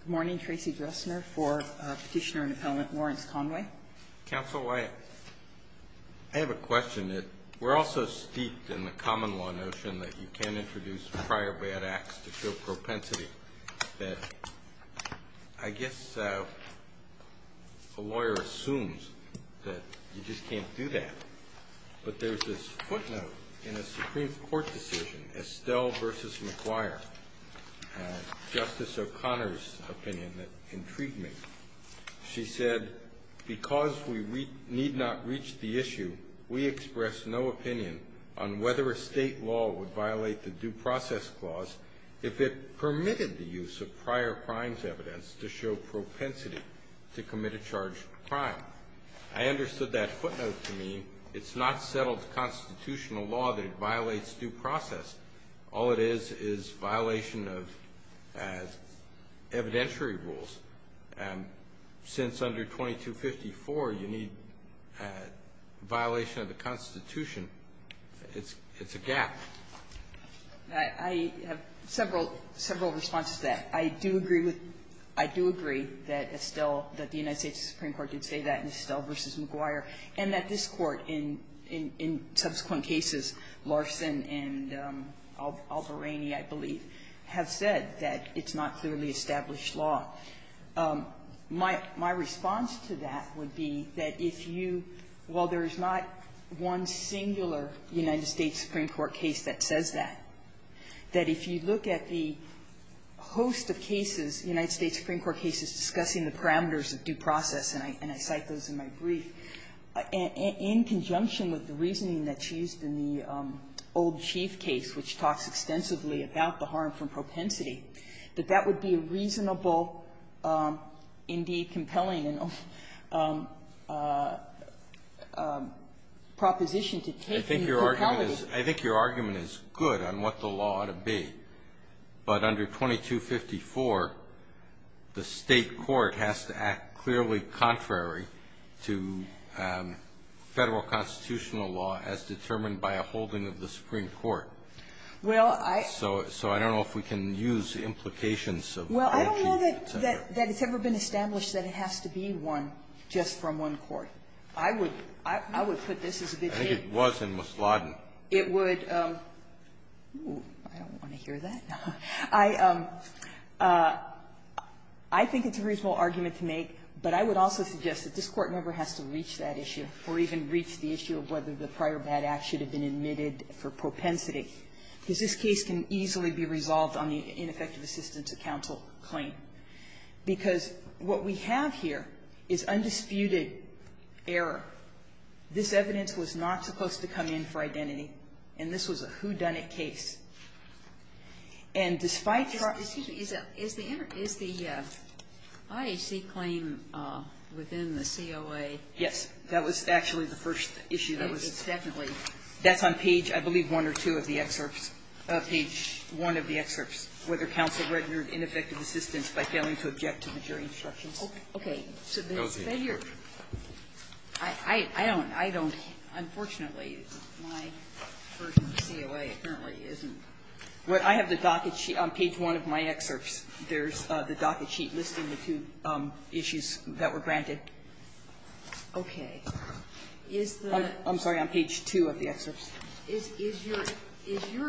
Good morning, Tracy Dressner for Petitioner and Appellant Lawrence Conway. Counsel, I have a question. We're all so steeped in the common law notion that you can't introduce prior bad acts to show propensity, that I guess a lawyer assumes that you just can't do that. But there's this footnote in a Supreme Court decision, Estelle v. McGuire, Justice O'Connor's opinion that intrigued me. She said, because we need not reach the issue, we express no opinion on whether a state law would violate the due process clause if it permitted the use of prior crimes evidence to show propensity to commit a charged crime. I understood that footnote to mean it's not settled constitutional law that it violates due process. All it is is violation of evidentiary rules. Since under 2254, you need violation of the Constitution. It's a gap. I have several responses to that. I do agree that Estelle, that the United States Supreme Court did say that in Estelle v. McGuire, and that this Court in subsequent cases, Larson and Albarrini, I believe, have said that it's not clearly established law. My response to that would be that if you, while there is not one singular United States Supreme Court case that says that, that if you look at the host of cases, United States Supreme Court cases discussing the parameters of due process, and I cite those in my brief, in conjunction with the reasoning that's used in the old Chief Prosecutor's case, which talks extensively about the harm from propensity, that that would be a reasonable, indeed compelling proposition to take in the capacity. I think your argument is good on what the law ought to be. But under 2254, the State court has to act clearly contrary to Federal constitutional law as determined by a holding of the Supreme Court. So I don't know if we can use implications of old Chief Prosecutor's. Well, I don't know that it's ever been established that it has to be one, just from one court. I would put this as a bit vague. I think it was in Musladen. It would be — oh, I don't want to hear that. I think it's a reasonable argument to make, but I would also suggest that this Court member has to reach that issue, or even reach the issue of whether the prior bad act should have been admitted for propensity, because this case can easily be resolved on the ineffective assistance of counsel claim, because what we have here is undisputed error. This evidence was not supposed to come in for identity, and this was a whodunit case. And despite the proxies of the other, is the IHC claim within the COA? Yes. That was actually the first issue. It was definitely. That's on page, I believe, one or two of the excerpts, page one of the excerpts, whether counsel regarded ineffective assistance by failing to object to the jury Okay. So the failure of the COA, I don't — I don't — unfortunately, my version of the I have the docket sheet on page one of my excerpts. There's the docket sheet listing the two issues that were granted. Okay. Is the — I'm sorry, on page two of the excerpts. Is your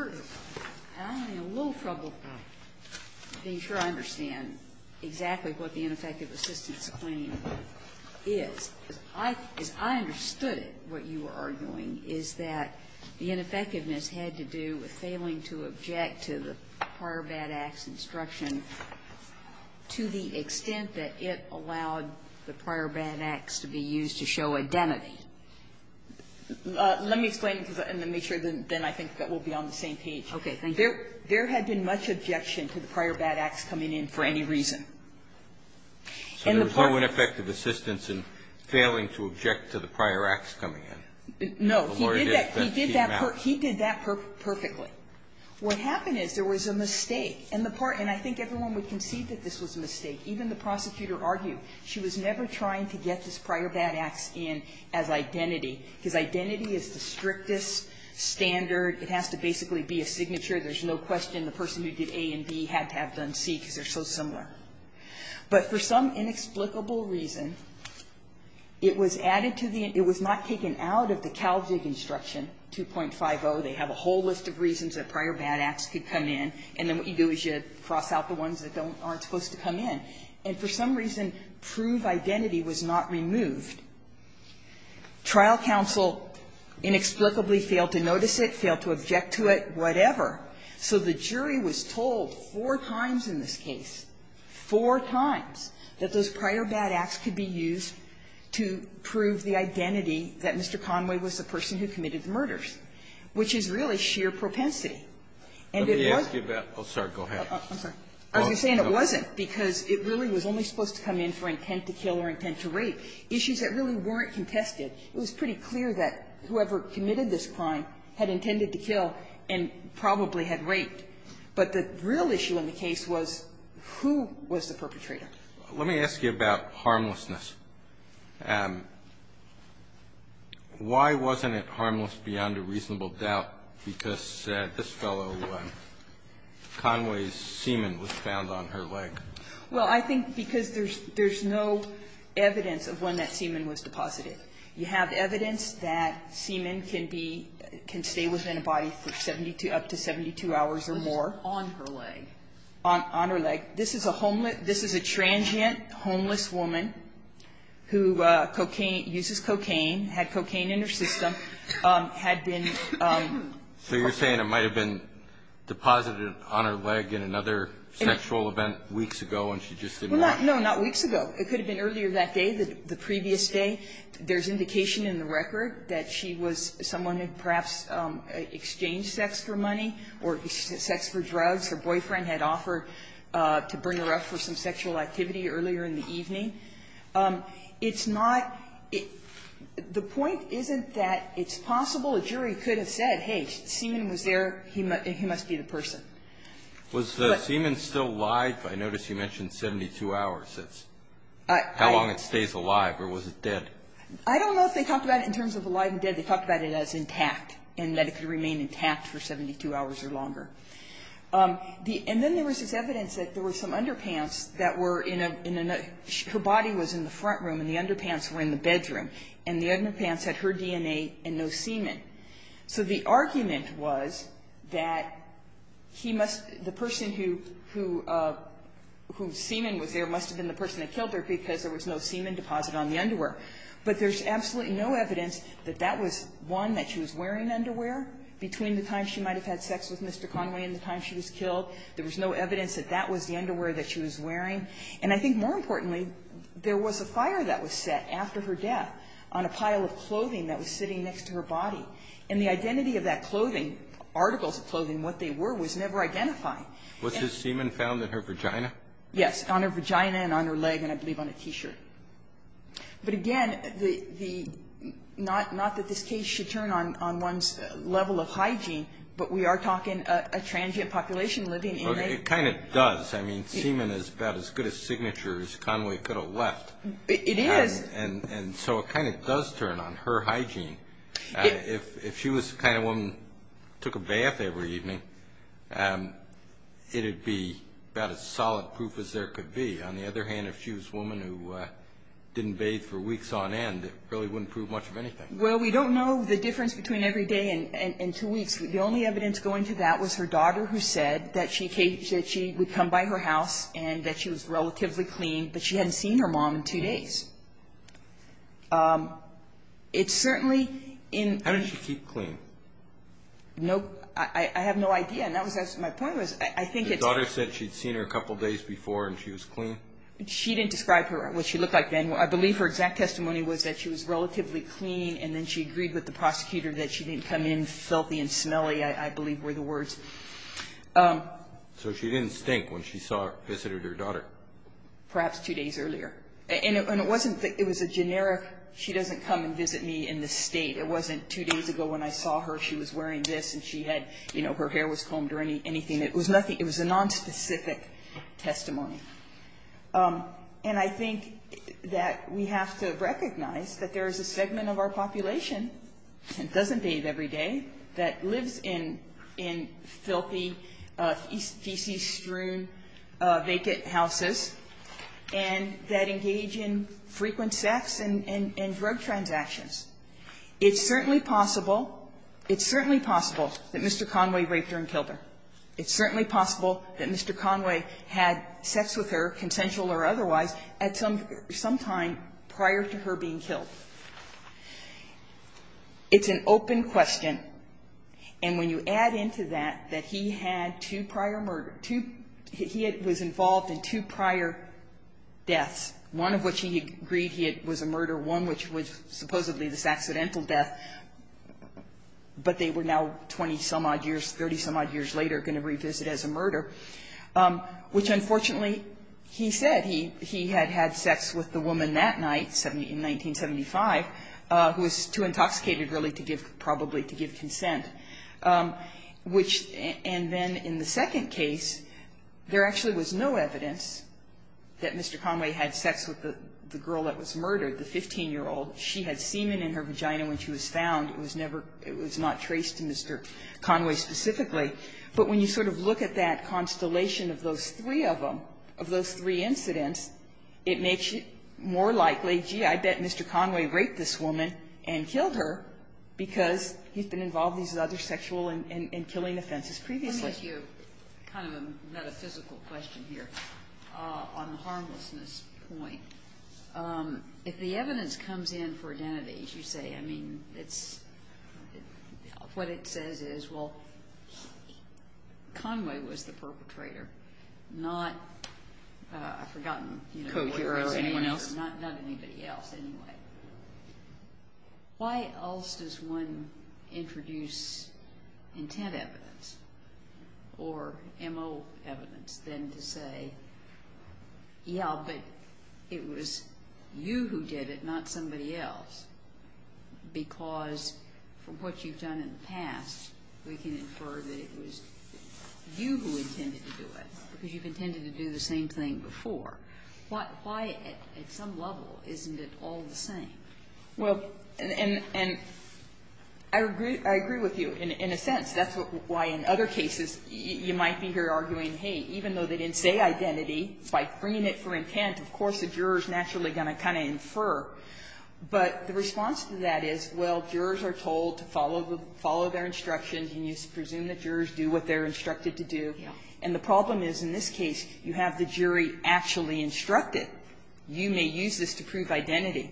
— I'm having a little trouble being sure I understand exactly what the ineffective assistance claim is, because I understood it, what you are arguing, is that the ineffectiveness had to do with failing to object to the prior bad acts instruction to the extent that it allowed the prior bad acts to be used to show identity. Let me explain and then make sure then I think that we'll be on the same page. Okay. Thank you. There had been much objection to the prior bad acts coming in for any reason. So there was no ineffective assistance in failing to object to the prior acts coming in? No. The lawyer did, but it came out. He did that perfectly. What happened is there was a mistake. And the part — and I think everyone would concede that this was a mistake. Even the prosecutor argued she was never trying to get this prior bad acts in as identity, because identity is the strictest standard. It has to basically be a signature. There's no question the person who did A and B had to have done C because they're so similar. But for some inexplicable reason, it was added to the — it was not taken out of the They have a whole list of reasons that prior bad acts could come in. And then what you do is you cross out the ones that don't — aren't supposed to come in. And for some reason, prove identity was not removed. Trial counsel inexplicably failed to notice it, failed to object to it, whatever. So the jury was told four times in this case, four times, that those prior bad acts could be used to prove the identity that Mr. Conway was the person who committed the murders, which is really sheer propensity. And it was — Let me ask you about — oh, sorry. Go ahead. I'm sorry. I was just saying it wasn't, because it really was only supposed to come in for intent to kill or intent to rape, issues that really weren't contested. It was pretty clear that whoever committed this crime had intended to kill and probably had raped. But the real issue in the case was who was the perpetrator. Let me ask you about harmlessness. Why wasn't it harmless beyond a reasonable doubt, because this fellow, Conway's semen was found on her leg? Well, I think because there's no evidence of when that semen was deposited. You have evidence that semen can be — can stay within a body for 72 — up to 72 hours or more. On her leg. On her leg. This is a homeless — this is a transient homeless woman who cocaine — uses cocaine, had cocaine in her system, had been — So you're saying it might have been deposited on her leg in another sexual event weeks ago, and she just didn't want it? No, not weeks ago. It could have been earlier that day, the previous day. There's indication in the record that she was someone who perhaps exchanged sex for money or sex for drugs. Her boyfriend had offered to bring her up for some sexual activity earlier in the evening. It's not — the point isn't that it's possible. A jury could have said, hey, semen was there. He must be the person. Was the semen still alive? I noticed you mentioned 72 hours. That's how long it stays alive. Or was it dead? I don't know if they talked about it in terms of alive and dead. They talked about it as intact and that it could remain intact for 72 hours or longer. And then there was this evidence that there were some underpants that were in a — her body was in the front room, and the underpants were in the bedroom. And the underpants had her DNA and no semen. So the argument was that he must — the person who — whose semen was there must have been the person that killed her because there was no semen deposit on the underwear. But there's absolutely no evidence that that was one that she was wearing underwear between the time she might have had sex with Mr. Conway and the time she was killed. There was no evidence that that was the underwear that she was wearing. And I think, more importantly, there was a fire that was set after her death on a pile of clothing that was sitting next to her body. And the identity of that clothing, articles of clothing, what they were, was never identified. And — Was his semen found in her vagina? Yes, on her vagina and on her leg and, I believe, on a T-shirt. But again, the — not that this case should turn on one's level of hygiene, but we are talking a transient population living in a — But it kind of does. I mean, semen is about as good a signature as Conway could have left. It is. And so it kind of does turn on her hygiene. If she was the kind of woman who took a bath every evening, it would be about as solid proof as there could be. On the other hand, if she was a woman who didn't bathe for weeks on end, it really wouldn't prove much of anything. Well, we don't know the difference between every day and two weeks. The only evidence going to that was her daughter who said that she came — that she would come by her house and that she was relatively clean, but she hadn't seen her mom in two days. It's certainly in — How did she keep clean? No — I have no idea. And that was — my point was, I think it's — Your daughter said she'd seen her a couple days before and she was clean? She didn't describe her — what she looked like then. I believe her exact testimony was that she was relatively clean, and then she agreed with the prosecutor that she didn't come in filthy and smelly, I believe were the words. So she didn't stink when she saw — visited her daughter? Perhaps two days earlier. And it wasn't — it was a generic, she doesn't come and visit me in this state. It wasn't two days ago when I saw her, she was wearing this and she had — you know, her hair was combed or anything. It was nothing — it was a nonspecific testimony. And I think that we have to recognize that there is a segment of our population that doesn't bathe every day, that lives in filthy, feces-strewn, vacant houses and that engage in frequent sex and drug transactions. It's certainly possible — it's certainly possible that Mr. Conway raped her and killed her. It's certainly possible that Mr. Conway had sex with her, consensual or otherwise, at some time prior to her being killed. It's an open question. And when you add into that that he had two prior murder — two — he was involved in two prior deaths, one of which he agreed he had — was a murder, one which was later going to revisit as a murder, which unfortunately he said he had had sex with the woman that night in 1975, who was too intoxicated, really, to give — probably to give consent, which — and then in the second case, there actually was no evidence that Mr. Conway had sex with the girl that was murdered, the 15-year-old. She had semen in her vagina when she was found. It was never — it was not traced to Mr. Conway specifically. But when you sort of look at that constellation of those three of them, of those three incidents, it makes it more likely, gee, I bet Mr. Conway raped this woman and killed her because he's been involved in these other sexual and — and killing offenses previously. Kagan. Ginsburg. Let me ask you kind of a metaphysical question here on the harmlessness point. If the evidence comes in for identities, you say, I mean, it's — what it says is, well, Conway was the perpetrator, not — I've forgotten, you know — Co-hero, anyone else? Not anybody else, anyway. Why else does one introduce intent evidence or M.O. evidence than to say, yeah, but it was you who did it, not somebody else, because from what you've done in the past, we can infer that it was you who intended to do it, because you've intended to do the same thing before. Why, at some level, isn't it all the same? Well, and I agree with you in a sense. That's why in other cases you might be here arguing, hey, even though they didn't say identity, by bringing it for intent, of course the juror is naturally going to kind of infer. But the response to that is, well, jurors are told to follow the — follow their instructions, and you presume that jurors do what they're instructed to do. And the problem is, in this case, you have the jury actually instructed. You may use this to prove identity.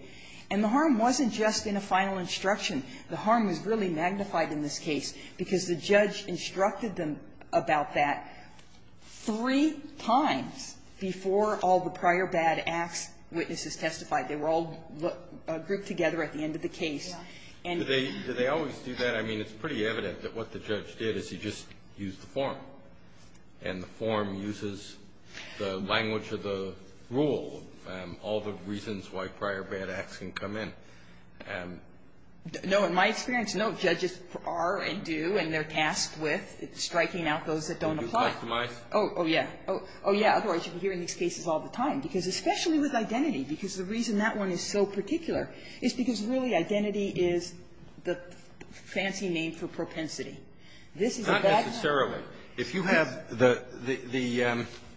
And the harm wasn't just in a final instruction. The harm is really magnified in this case because the judge instructed them about that three times before all the prior bad acts witnesses testified. They were all grouped together at the end of the case. And they always do that. I mean, it's pretty evident that what the judge did is he just used the form. And the form uses the language of the rule and all the reasons why prior bad acts can come in. No. In my experience, no. Judges are and do and they're tasked with striking out those that don't apply. Oh, yeah. Oh, yeah. Otherwise, you can hear in these cases all the time, because especially with identity, because the reason that one is so particular is because really identity is the fancy name for propensity. This is a bad one. Not necessarily. If you have the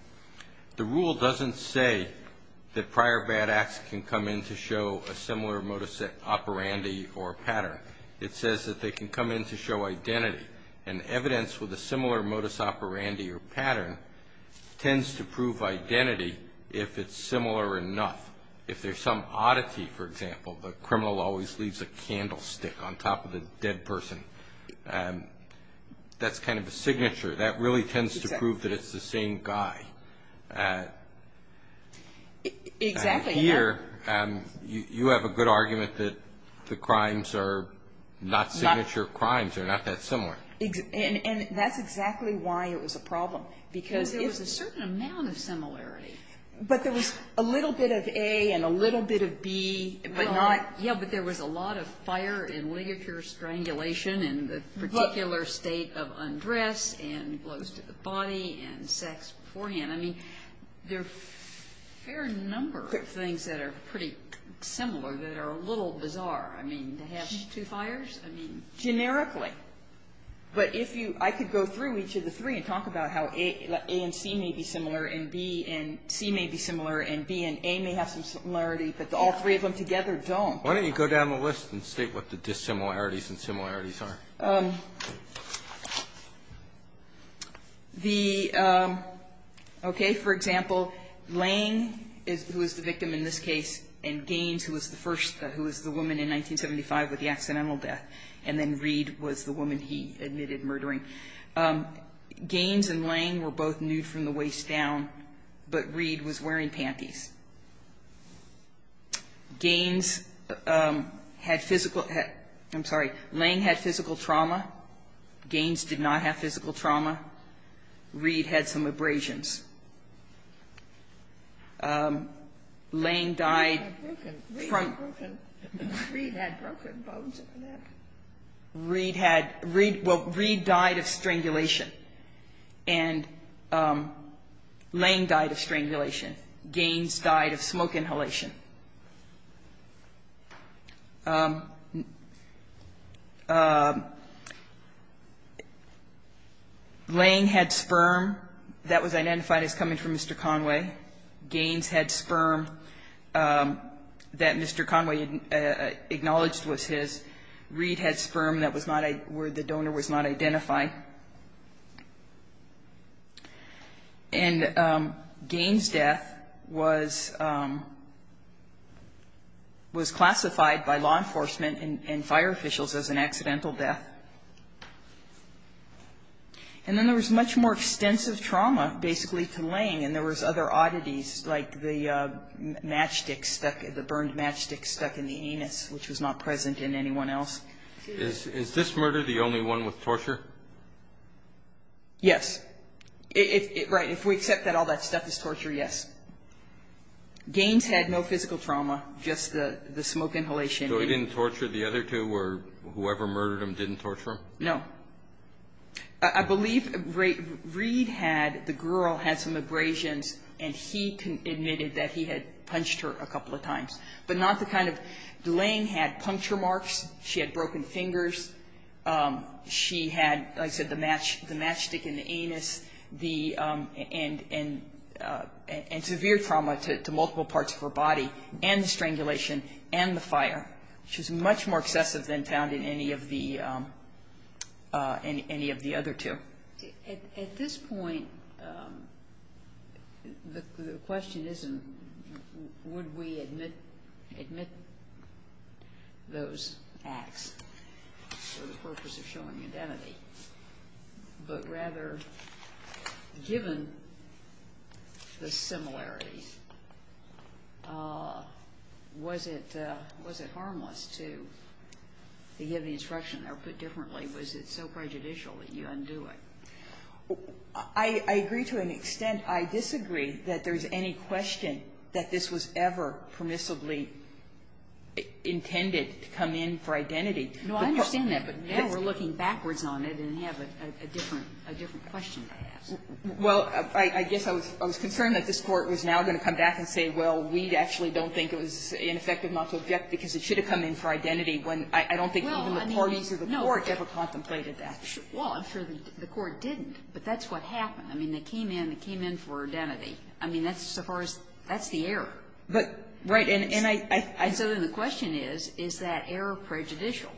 — the rule doesn't say that prior bad acts can come in to show a similar modus operandi or pattern. It says that they can come in to show identity. And evidence with a similar modus operandi or pattern tends to prove identity if it's similar enough. If there's some oddity, for example, the criminal always leaves a candlestick on top of a dead person. That's kind of a signature. That really tends to prove that it's the same guy. Exactly. Here, you have a good argument that the crimes are not signature crimes. They're not that similar. And that's exactly why it was a problem. Because there was a certain amount of similarity. But there was a little bit of A and a little bit of B, but not — Yeah, but there was a lot of fire and ligature strangulation and the particular state of undress and close to the body and sex beforehand. I mean, there are a fair number of things that are pretty similar that are a little bizarre. I mean, to have two fires? I mean — Generically. But if you — I could go through each of the three and talk about how A and C may be similar and B and C may be similar and B and A may have some similarity, but all three of them together don't. Why don't you go down the list and state what the dissimilarities and similarities are? The — okay. For example, Lange, who is the victim in this case, and Gaines, who was the first — who was the woman in 1975 with the accidental death, and then Reed was the woman he admitted murdering. Gaines and Lange were both nude from the waist down, but Reed was wearing panties. Gaines had physical — I'm sorry. Lange had physical trauma. Gaines did not have physical trauma. Reed had some abrasions. Lange died from — Reed had broken bones in the neck. Reed had — well, Reed died of strangulation, and Lange died of strangulation. Gaines died of smoke inhalation. Lange had sperm that was identified as coming from Mr. Conway. Gaines had sperm that Mr. Conway acknowledged was his. Reed had sperm that was not — where the donor was not identified. It was classified by law enforcement and fire officials as an accidental death. And then there was much more extensive trauma, basically, to Lange, and there was other oddities, like the matchstick stuck — the burned matchstick stuck in the anus, which was not present in anyone else. Is this murder the only one with torture? Yes. Right. If we accept that all that stuff is torture, yes. Gaines had no physical trauma, just the smoke inhalation. So he didn't torture the other two, or whoever murdered him didn't torture him? No. I believe Reed had — the girl had some abrasions, and he admitted that he had punched her a couple of times. But not the kind of — Lange had puncture marks. She had broken fingers. She had, like I said, the matchstick in the anus, and severe trauma to multiple parts of her body, and the strangulation, and the fire, which was much more excessive than found in any of the other two. At this point, the question isn't would we admit those acts for the purpose of showing identity, but rather, given the similarities, was it harmless to give the instruction, or was it so prejudicial that you undo it? I agree to an extent. I disagree that there's any question that this was ever permissibly intended to come in for identity. No, I understand that, but now we're looking backwards on it and have a different question to ask. Well, I guess I was concerned that this Court was now going to come back and say, well, we actually don't think it was ineffective not to object because it should have come in for identity when I don't think even the parties of the Court ever contemplated that. Well, I'm sure the Court didn't, but that's what happened. I mean, they came in. They came in for identity. I mean, that's so far as — that's the error. But, right, and I — And so then the question is, is that error prejudicial?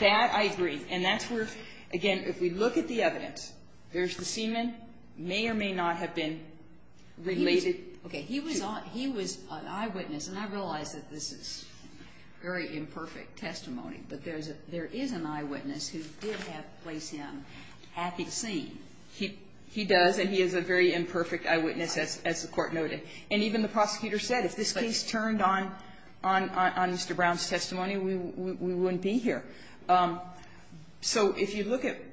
That I agree. And that's where, again, if we look at the evidence, there's the semen, may or may not have been related to — Very imperfect testimony. But there is an eyewitness who did place him at the scene. He does, and he is a very imperfect eyewitness, as the Court noted. And even the prosecutor said, if this case turned on Mr. Brown's testimony, we wouldn't be here. So if you look at —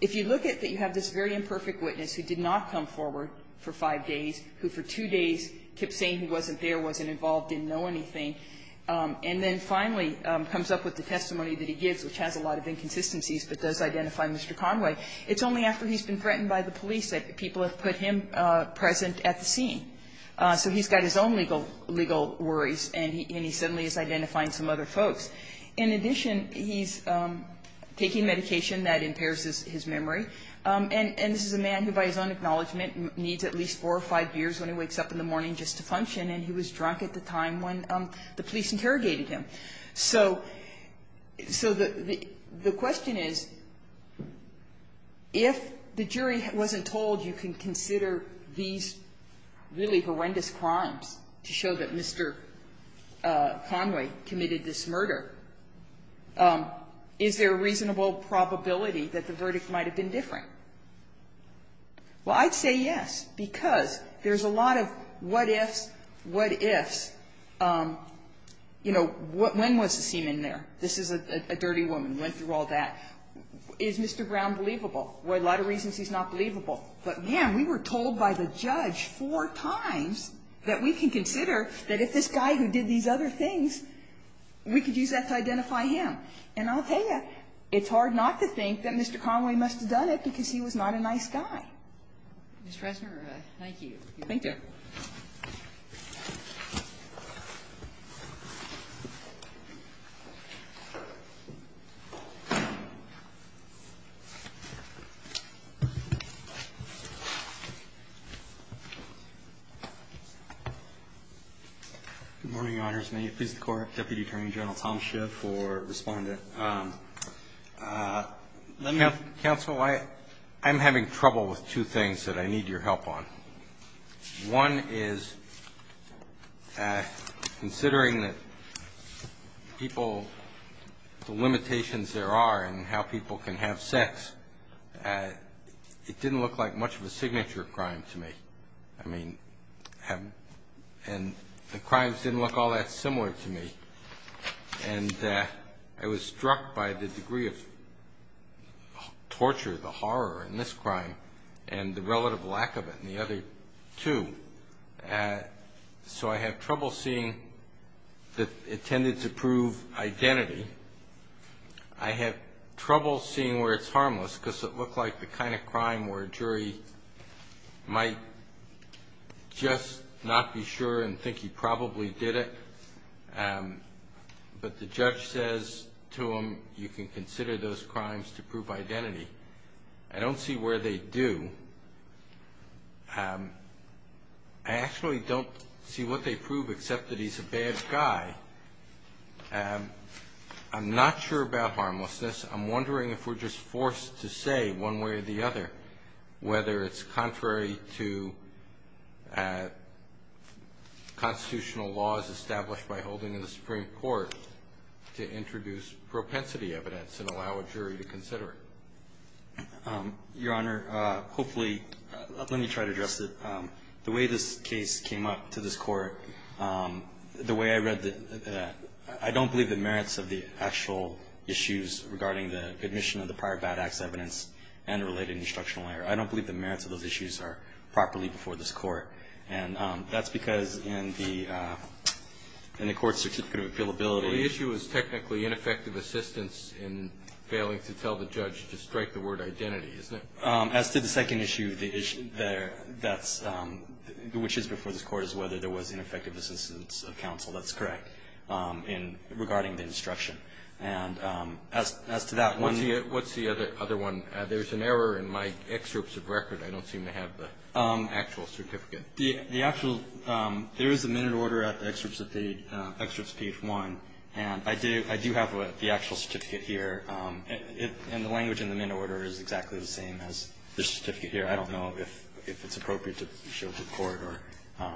if you look at that you have this very imperfect witness who did not come forward for five days, who for two days kept saying he wasn't there, wasn't involved, didn't know anything, and then finally comes up with the testimony that he gives, which has a lot of inconsistencies, but does identify Mr. Conway, it's only after he's been threatened by the police that people have put him present at the scene. So he's got his own legal worries, and he suddenly is identifying some other folks. In addition, he's taking medication that impairs his memory. And this is a man who, by his own acknowledgment, needs at least four or five beers when he wakes up in the morning just to function, and he was drunk at the time when the police interrogated him. So the question is, if the jury wasn't told you can consider these really horrendous crimes to show that Mr. Conway committed this murder, is there a reasonable probability that the verdict might have been different? Well, I'd say yes, because there's a lot of what ifs, what ifs. You know, when was the semen there? This is a dirty woman, went through all that. Is Mr. Brown believable? For a lot of reasons he's not believable. But, man, we were told by the judge four times that we can consider that if this guy who did these other things, we could use that to identify him. And I'll tell you, it's hard not to think that Mr. Conway must have done it because he was not a nice guy. Ms. Fresner, thank you. Thank you. Good morning. Good morning, Your Honors. May it please the Court. Deputy Attorney General Tom Schiff for Respondent. Let me ask counsel, I'm having trouble with two things that I need your help on. One is, considering that people, the limitations there are in how people can have sex, it didn't look like much of a signature crime to me. I mean, and the crimes didn't look all that similar to me. And I was struck by the degree of torture, the horror in this crime, and the relative lack of it in the other two. So I have trouble seeing that it tended to prove identity. I have trouble seeing where it's harmless because it looked like the kind of crime where a jury might just not be sure and think he probably did it. But the judge says to him, you can consider those crimes to prove identity. I don't see where they do. I actually don't see what they prove except that he's a bad guy. I'm not sure about harmlessness. I'm wondering if we're just forced to say one way or the other whether it's contrary to constitutional laws established by holding in the Supreme Court to introduce propensity evidence and allow a jury to consider it. Your Honor, hopefully, let me try to address it. The way this case came up to this Court, the way I read it, I don't believe the merits of the actual issues regarding the admission of the prior bad acts evidence and the related instructional error. I don't believe the merits of those issues are properly before this Court. And that's because in the Court's certificate of appealability The issue is technically ineffective assistance in failing to tell the judge to strike the word identity, isn't it? As to the second issue, which is before this Court, is whether there was ineffective assistance of counsel. That's correct, regarding the instruction. And as to that one What's the other one? There's an error in my excerpts of record. I don't seem to have the actual certificate. There is a minute order at the excerpts of page 1. And I do have the actual certificate here. And the language in the minute order is exactly the same as this certificate here. I don't know if it's appropriate to show it to the Court. All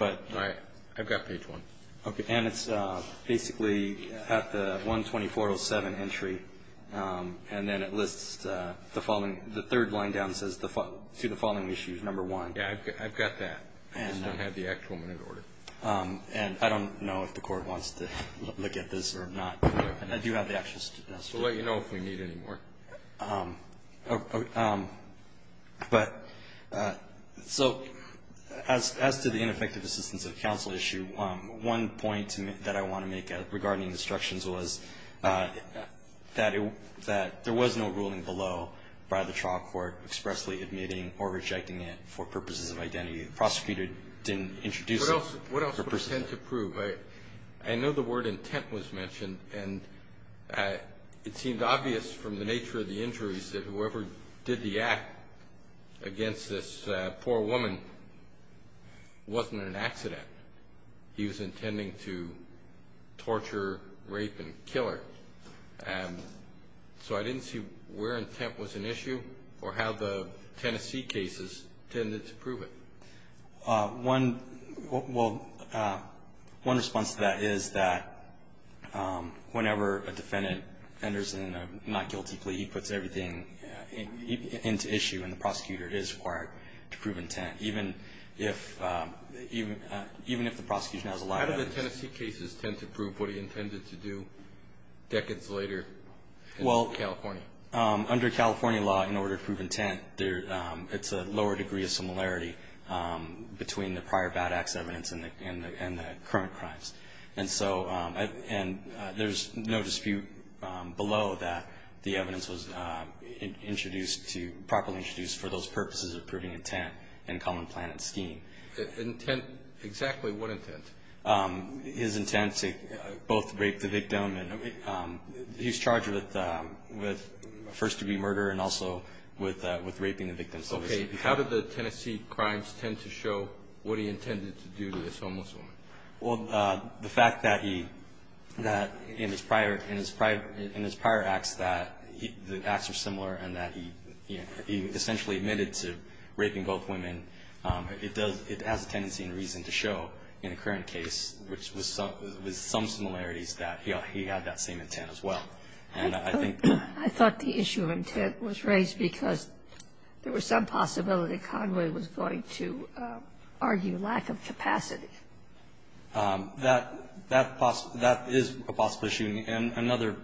right. I've got page 1. Okay. And it's basically at the 12407 entry. And then it lists the following The third line down says to the following issues, number 1. Yeah, I've got that. I just don't have the actual minute order. And I don't know if the Court wants to look at this or not. And I do have the actual certificate. We'll let you know if we need any more. But so as to the ineffective assistance of counsel issue, one point that I want to make regarding instructions was that there was no ruling below by the trial court expressly admitting or rejecting it for purposes of identity. The prosecutor didn't introduce it. What else would you intend to prove? I know the word intent was mentioned, and it seemed obvious from the nature of the injuries that whoever did the act against this poor woman wasn't an accident. He was intending to torture, rape, and kill her. So I didn't see where intent was an issue or how the Tennessee cases tended to prove it. One response to that is that whenever a defendant enters in a not guilty plea, he puts everything into issue, and the prosecutor is required to prove intent, even if the prosecution has a lot of evidence. How did the Tennessee cases tend to prove what he intended to do decades later in California? Under California law, in order to prove intent, it's a lower degree of similarity between the prior bad acts evidence and the current crimes. And so there's no dispute below that the evidence was introduced to – properly introduced for those purposes of proving intent in common plan and scheme. Intent – exactly what intent? His intent to both rape the victim. He's charged with first-degree murder and also with raping the victim. Okay. How did the Tennessee crimes tend to show what he intended to do to this homeless woman? Well, the fact that he – that in his prior – in his prior – in his prior acts that he – the acts are similar and that he essentially admitted to raping both women, it does – it has a tendency and reason to show in the current case, which was some similarities that he had that same intent as well. And I think – I thought the issue of intent was raised because there was some possibility that Conway was going to argue lack of capacity. That – that is a possible issue. And another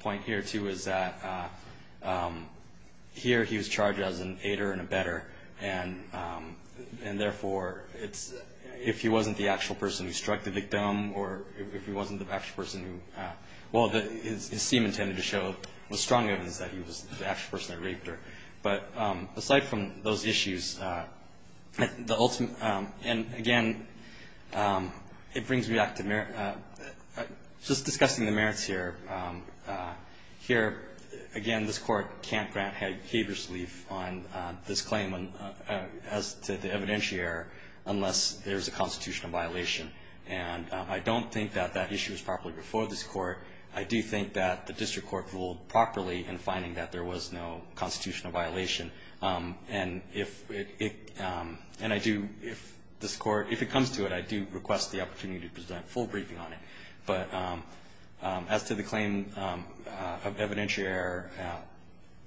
point here, too, is that here he was charged as an aider and abetter, and therefore it's – if he wasn't the actual person who struck the victim or if he wasn't the actual person who – well, his scheme intended to show the strong evidence that he was the actual person that raped her. But aside from those issues, the ultimate – and again, it brings me back to – just discussing the merits here. Here, again, this Court can't grant habeas relief on this claim as to the evidentiary unless there's a constitutional violation. And I don't think that that issue was properly before this Court. I do think that the district court ruled properly in finding that there was no constitutional violation. And if it – and I do – if this Court – if it comes to it, I do request the opportunity to present a full briefing on it. But as to the claim of evidentiary error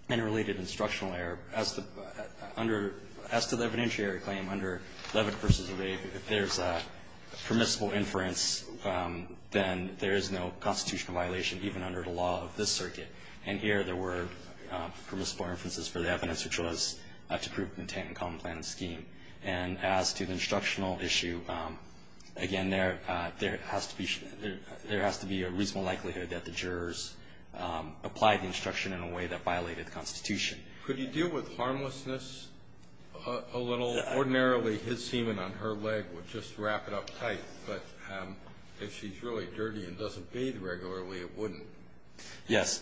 and related instructional error, as the – under – as to the evidentiary claim under Levitt v. Obey, if there's a permissible inference, then there is no constitutional violation even under the law of this circuit. And here, there were permissible inferences for the evidence, which was to prove content in common plan and scheme. And as to the instructional issue, again, there – there has to be – there has to be a reasonable likelihood that the jurors applied the instruction in a way that violated the Constitution. Could you deal with harmlessness a little? Ordinarily, his semen on her leg would just wrap it up tight. But if she's really dirty and doesn't bathe regularly, it wouldn't. Yes.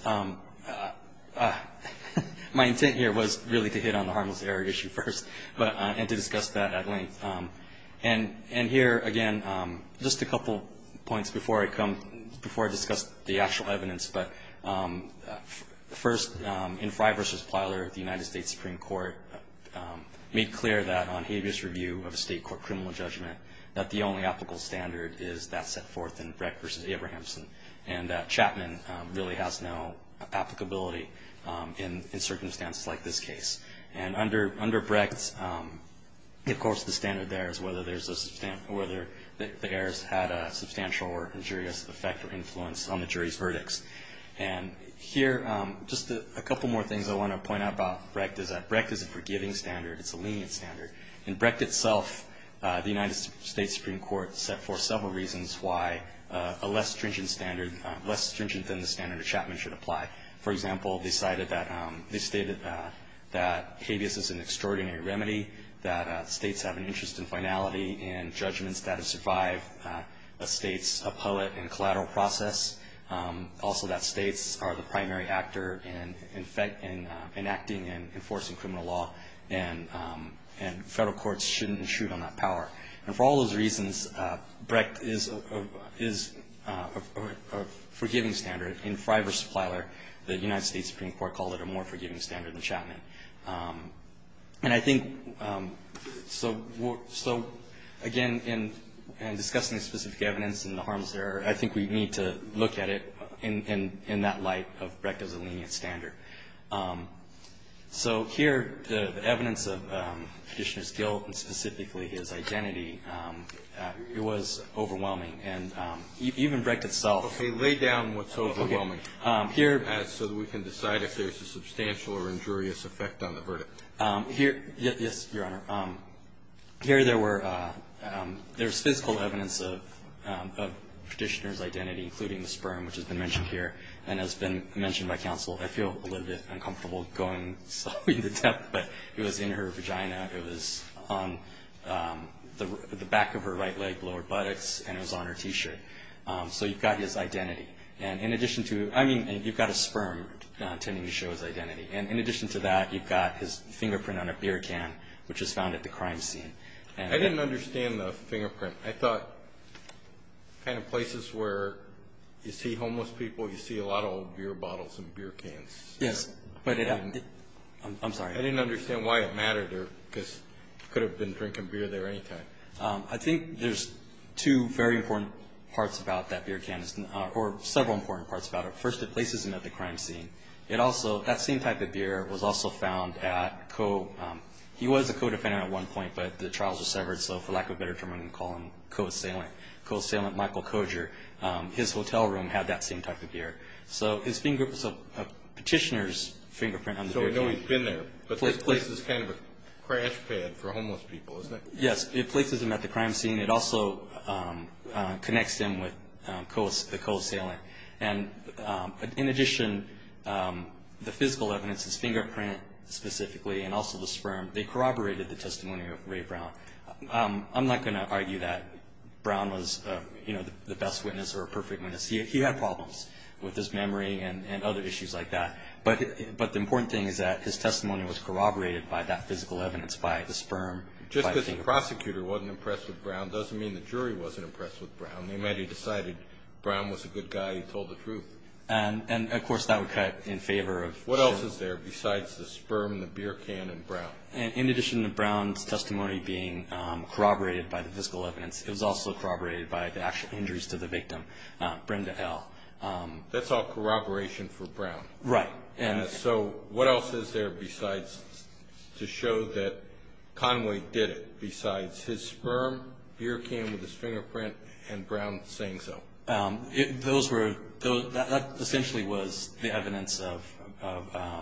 My intent here was really to hit on the harmless error issue first, but – and to discuss that at length. And here, again, just a couple points before I come – before I discuss the actual evidence. But first, in Fry v. Plyler, the United States Supreme Court made clear that on habeas review of a State court criminal judgment, that the only applicable standard is that set forth in Brecht v. Abrahamson, and that Chapman really has no applicability in – in circumstances like this case. And under – under Brecht, of course, the standard there is whether there's a – whether the errors had a substantial or injurious effect or influence on the judgment. And here, just a couple more things I want to point out about Brecht is that Brecht is a forgiving standard. It's a lenient standard. In Brecht itself, the United States Supreme Court set forth several reasons why a less stringent standard – less stringent than the standard of Chapman should apply. For example, they cited that – they stated that habeas is an extraordinary remedy, that States have an interest in finality and judgments that have survived a State's appellate and collateral process. Also, that States are the primary actor in enacting and enforcing criminal law, and Federal courts shouldn't intrude on that power. And for all those reasons, Brecht is a – is a forgiving standard. In Freiberg's plethora, the United States Supreme Court called it a more forgiving standard than Chapman. And I think – so again, in discussing specific evidence and the harms there, I think we need to look at it in that light of Brecht as a lenient standard. So here, the evidence of Petitioner's guilt and specifically his identity, it was overwhelming. And even Brecht itself – Okay. Lay down what's overwhelming. Okay. Here – So that we can decide if there's a substantial or injurious effect on the verdict. Here – yes, Your Honor. Here, there were – there's physical evidence of Petitioner's identity, including the sperm, which has been mentioned here and has been mentioned by counsel. I feel a little bit uncomfortable going so into depth, but it was in her vagina. It was on the back of her right leg, lower buttocks, and it was on her T-shirt. So you've got his identity. And in addition to – I mean, you've got a sperm tending to show his identity. And in addition to that, you've got his fingerprint on a beer can, which was found at the crime scene. I didn't understand the fingerprint. I thought kind of places where you see homeless people, you see a lot of old beer bottles and beer cans. Yes, but it – I'm sorry. I didn't understand why it mattered because he could have been drinking beer there any time. I think there's two very important parts about that beer can or several important parts about it. First, it places him at the crime scene. It also – that same type of beer was also found at – he was a co-defender at one point, but the trials were severed. So for lack of a better term, I'm going to call him co-assailant, co-assailant Michael Koger. His hotel room had that same type of beer. So his fingerprint was a petitioner's fingerprint on the beer can. So we know he's been there, but this places kind of a crash pad for homeless people, isn't it? Yes, it places him at the crime scene. It also connects him with the co-assailant. And in addition, the physical evidence, his fingerprint specifically and also the sperm, they corroborated the testimony of Ray Brown. I'm not going to argue that Brown was, you know, the best witness or a perfect witness. He had problems with his memory and other issues like that. But the important thing is that his testimony was corroborated by that physical evidence, by the sperm. Just because the prosecutor wasn't impressed with Brown doesn't mean the jury wasn't impressed with Brown. They might have decided Brown was a good guy who told the truth. And, of course, that would cut in favor of Jim. What else is there besides the sperm, the beer can, and Brown? In addition to Brown's testimony being corroborated by the physical evidence, it was also corroborated by the actual injuries to the victim, Brenda L. That's all corroboration for Brown. Right. So what else is there besides to show that Conway did it? Besides his sperm, beer can with his fingerprint, and Brown saying so. Those were, that essentially was the evidence of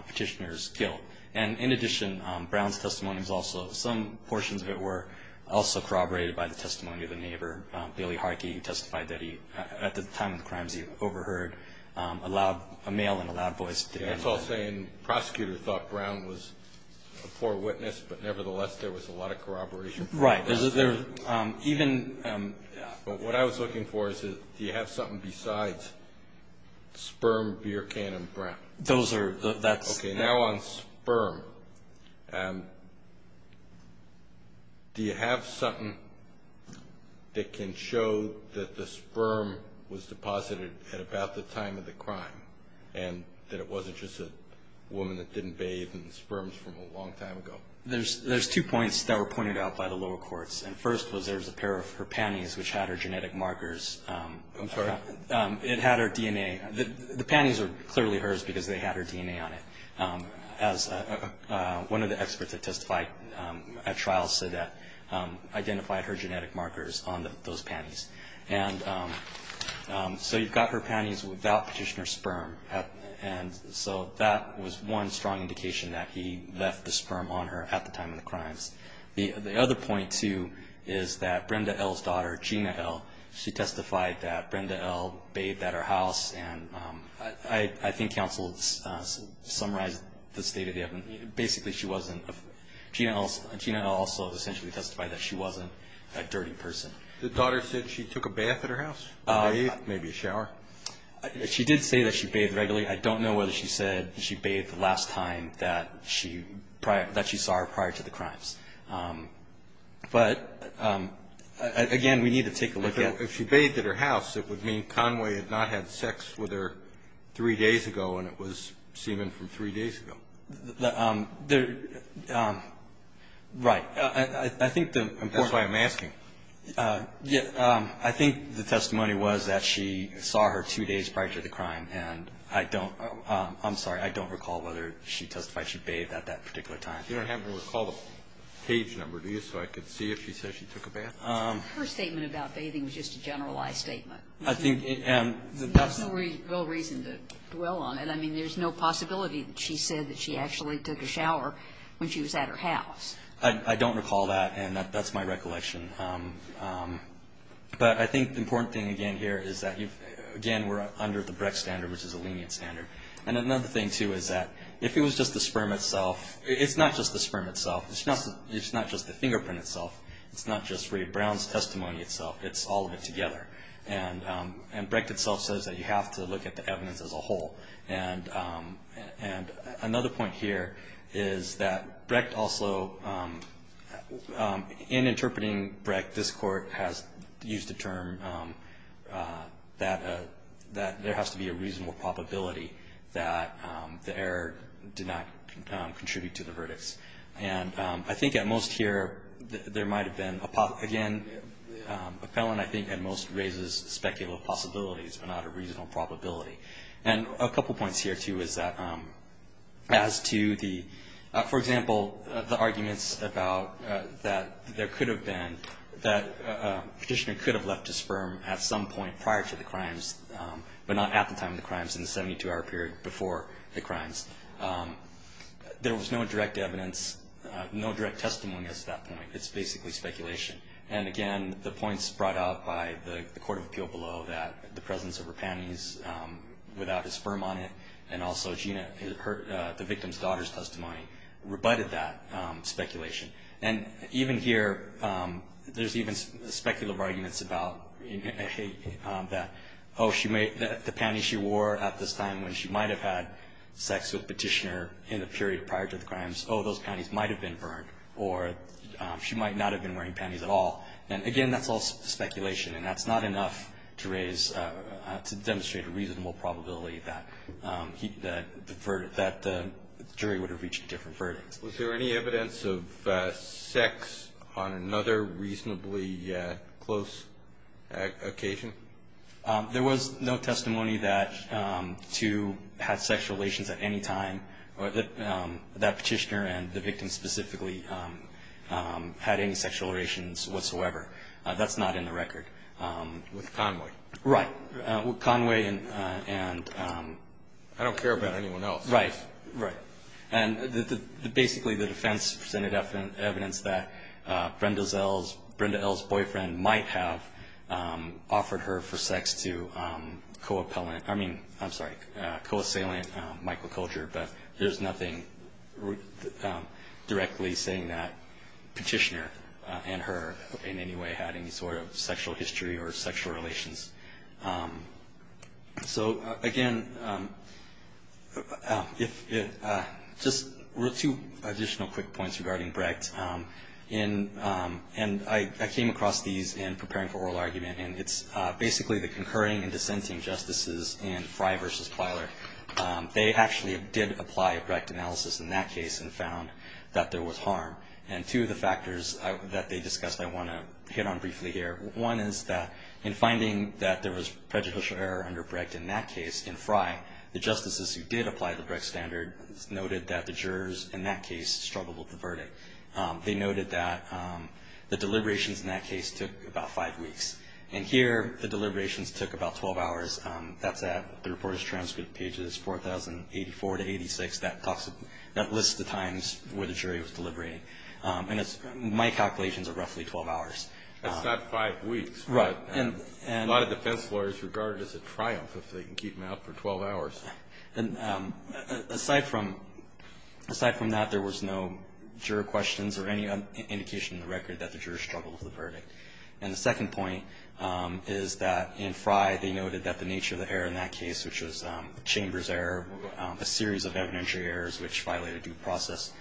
Petitioner's guilt. And, in addition, Brown's testimony was also, some portions of it were also corroborated by the testimony of the neighbor, Billy Harkey. He testified that he, at the time of the crimes, he overheard a loud, a male in a loud voice. That's all saying the prosecutor thought Brown was a poor witness, but, nevertheless, there was a lot of corroboration. Right. Even, what I was looking for is do you have something besides sperm, beer can, and Brown? Those are, that's. Okay, now on sperm. Do you have something that can show that the sperm was deposited at about the time of the crime, and that it wasn't just a woman that didn't bathe in sperms from a long time ago? There's two points that were pointed out by the lower courts. And first was there was a pair of her panties, which had her genetic markers. I'm sorry? It had her DNA. The panties are clearly hers because they had her DNA on it. As one of the experts that testified at trial said that, identified her genetic markers on those panties. And so you've got her panties without petitioner sperm. And so that was one strong indication that he left the sperm on her at the time of the crimes. The other point, too, is that Brenda L's daughter, Gina L, she testified that Brenda L bathed at her house. And I think counsel summarized the state of the evidence. Basically she wasn't, Gina L also essentially testified that she wasn't a dirty person. The daughter said she took a bath at her house, bathed, maybe a shower. She did say that she bathed regularly. I don't know whether she said she bathed the last time that she saw her prior to the crimes. But, again, we need to take a look at. If she bathed at her house, it would mean Conway had not had sex with her three days ago and it was semen from three days ago. Right. I think the important. That's why I'm asking. I think the testimony was that she saw her two days prior to the crime. And I don't, I'm sorry, I don't recall whether she testified she bathed at that particular time. You don't happen to recall the page number, do you, so I could see if she said she took a bath? Her statement about bathing was just a generalized statement. I think. There's no real reason to dwell on it. I mean, there's no possibility that she said that she actually took a shower when she was at her house. I don't recall that, and that's my recollection. But I think the important thing, again, here is that, again, we're under the Brecht standard, which is a lenient standard. And another thing, too, is that if it was just the sperm itself, it's not just the sperm itself. It's not just the fingerprint itself. It's not just Ray Brown's testimony itself. It's all of it together. And Brecht itself says that you have to look at the evidence as a whole. And another point here is that Brecht also, in interpreting Brecht, this Court has used the term that there has to be a reasonable probability that the error did not contribute to the verdicts. And I think at most here there might have been, again, a felon, I think, at most raises speculative possibilities but not a reasonable probability. And a couple points here, too, is that as to the, for example, the arguments about that there could have been, that a petitioner could have left a sperm at some point prior to the crimes but not at the time of the crimes in the 72-hour period before the crimes. There was no direct evidence, no direct testimony as to that point. It's basically speculation. And, again, the points brought out by the Court of Appeal below, that the presence of Rapani's without his sperm on it and also Gina, the victim's daughter's testimony, rebutted that speculation. And even here there's even speculative arguments about that, oh, the panties she wore at this time when she might have had sex with the petitioner in the period prior to the crimes, oh, those panties might have been burned, or she might not have been wearing panties at all. And, again, that's all speculation. And that's not enough to raise, to demonstrate a reasonable probability that the jury would have reached a different verdict. Was there any evidence of sex on another reasonably close occasion? There was no testimony that two had sex relations at any time, or that that petitioner and the victim specifically had any sexual relations whatsoever. That's not in the record. With Conway. Right. With Conway and ‑‑ I don't care about anyone else. Right. Right. And basically the defense presented evidence that Brenda's L's, Brenda L's boyfriend might have offered her for sex to co-appellant, I mean, I'm sorry, microculture, but there's nothing directly saying that petitioner and her in any way had any sort of sexual history or sexual relations. So, again, just two additional quick points regarding Brecht. And I came across these in preparing for oral argument. And it's basically the concurring and dissenting justices in Frey versus Plyler. They actually did apply a Brecht analysis in that case and found that there was harm. And two of the factors that they discussed I want to hit on briefly here. One is that in finding that there was prejudicial error under Brecht in that case, in Frey, the justices who did apply the Brecht standard noted that the jurors in that case struggled with the verdict. They noted that the deliberations in that case took about five weeks. And here the deliberations took about 12 hours. That's at the reporter's transcript pages 4084 to 86. That lists the times where the jury was deliberating. And my calculations are roughly 12 hours. That's not five weeks. Right. A lot of defense lawyers regard it as a triumph if they can keep them out for 12 hours. Aside from that, there was no juror questions or any indication in the record that the jurors struggled with the verdict. And the second point is that in Frey they noted that the nature of the error in that case, which was a chamber's error, a series of evidentiary errors which violated due process,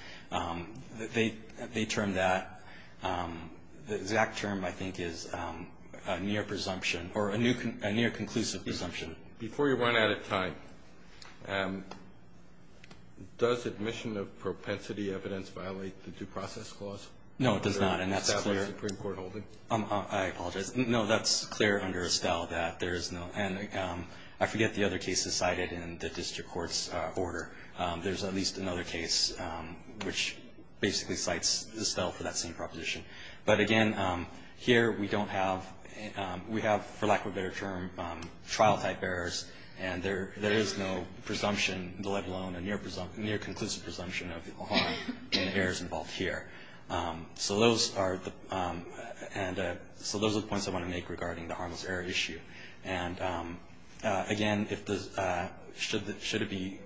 they termed that, the exact term I think is a near presumption or a near conclusive presumption. Before you run out of time, does admission of propensity evidence violate the due process clause? No, it does not. And that's clear. I apologize. No, that's clear under Estelle that there is no. And I forget the other cases cited in the district court's order. There's at least another case which basically cites Estelle for that same proposition. But, again, here we don't have, we have, for lack of a better term, trial type errors. And there is no presumption, let alone a near conclusive presumption of harm and errors involved here. So those are the points I want to make regarding the harmless error issue. And, again, should it be,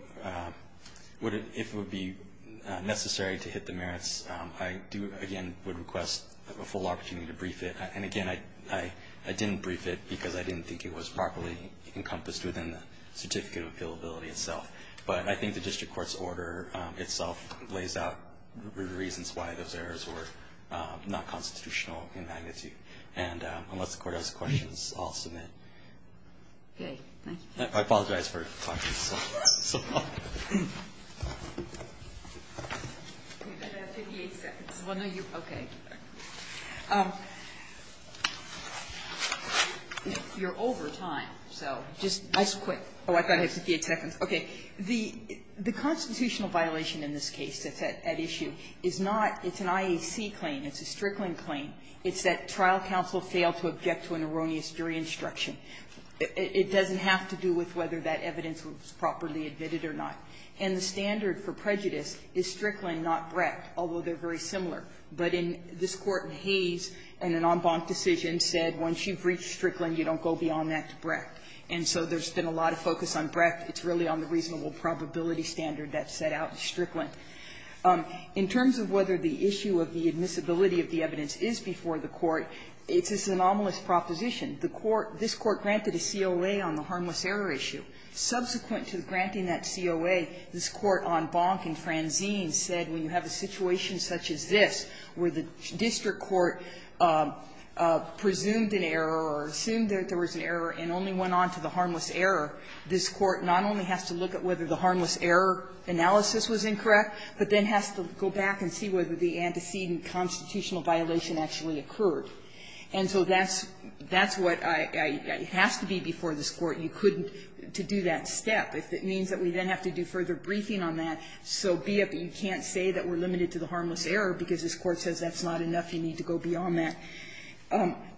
if it would be necessary to hit the merits, I do, again, would request a full opportunity to brief it. And, again, I didn't brief it because I didn't think it was properly encompassed within the certificate of appealability itself. But I think the district court's order itself lays out the reasons why those errors were not constitutional in magnitude. And unless the Court has questions, I'll submit. Okay. Thank you. I apologize for talking so long. I have 58 seconds. Well, no, you, okay. You're over time, so just nice and quick. Oh, I thought I had 58 seconds. Okay. The constitutional violation in this case that's at issue is not, it's an IAC claim. It's a Strickland claim. It's that trial counsel failed to object to an erroneous jury instruction. It doesn't have to do with whether that evidence was properly admitted or not. And the standard for prejudice is Strickland, not Brecht, although they're very similar. But in this Court, Hayes, in an en banc decision, said once you've reached Strickland, you don't go beyond that to Brecht. And so there's been a lot of focus on Brecht. It's really on the reasonable probability standard that's set out in Strickland. In terms of whether the issue of the admissibility of the evidence is before the Court, it's this anomalous proposition. The Court, this Court granted a COA on the harmless error issue. Subsequent to granting that COA, this Court, en banc in Francine, said when you have a situation such as this, where the district court presumed an error or assumed that there was an error and only went on to the harmless error, this Court not only has to look at whether the harmless error analysis was incorrect, but then has to go back and see whether the antecedent constitutional violation actually occurred. And so that's what has to be before this Court. You couldn't do that step. If it means that we then have to do further briefing on that, so be it that you can't say that we're limited to the harmless error because this Court says that's not enough, you need to go beyond that.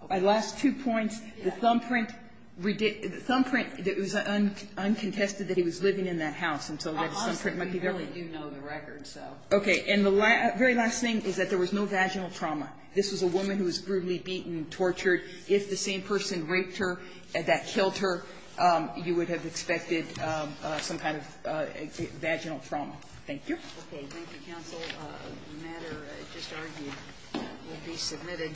My last two points, the thumbprint, the thumbprint, it was uncontested that he was living in that house, and so that thumbprint might be there. We really do know the record, so. Okay. And the very last thing is that there was no vaginal trauma. This was a woman who was brutally beaten, tortured. If the same person raped her, that killed her, you would have expected some kind of vaginal trauma. Thank you. Okay. Thank you, counsel. The matter just argued will be submitted.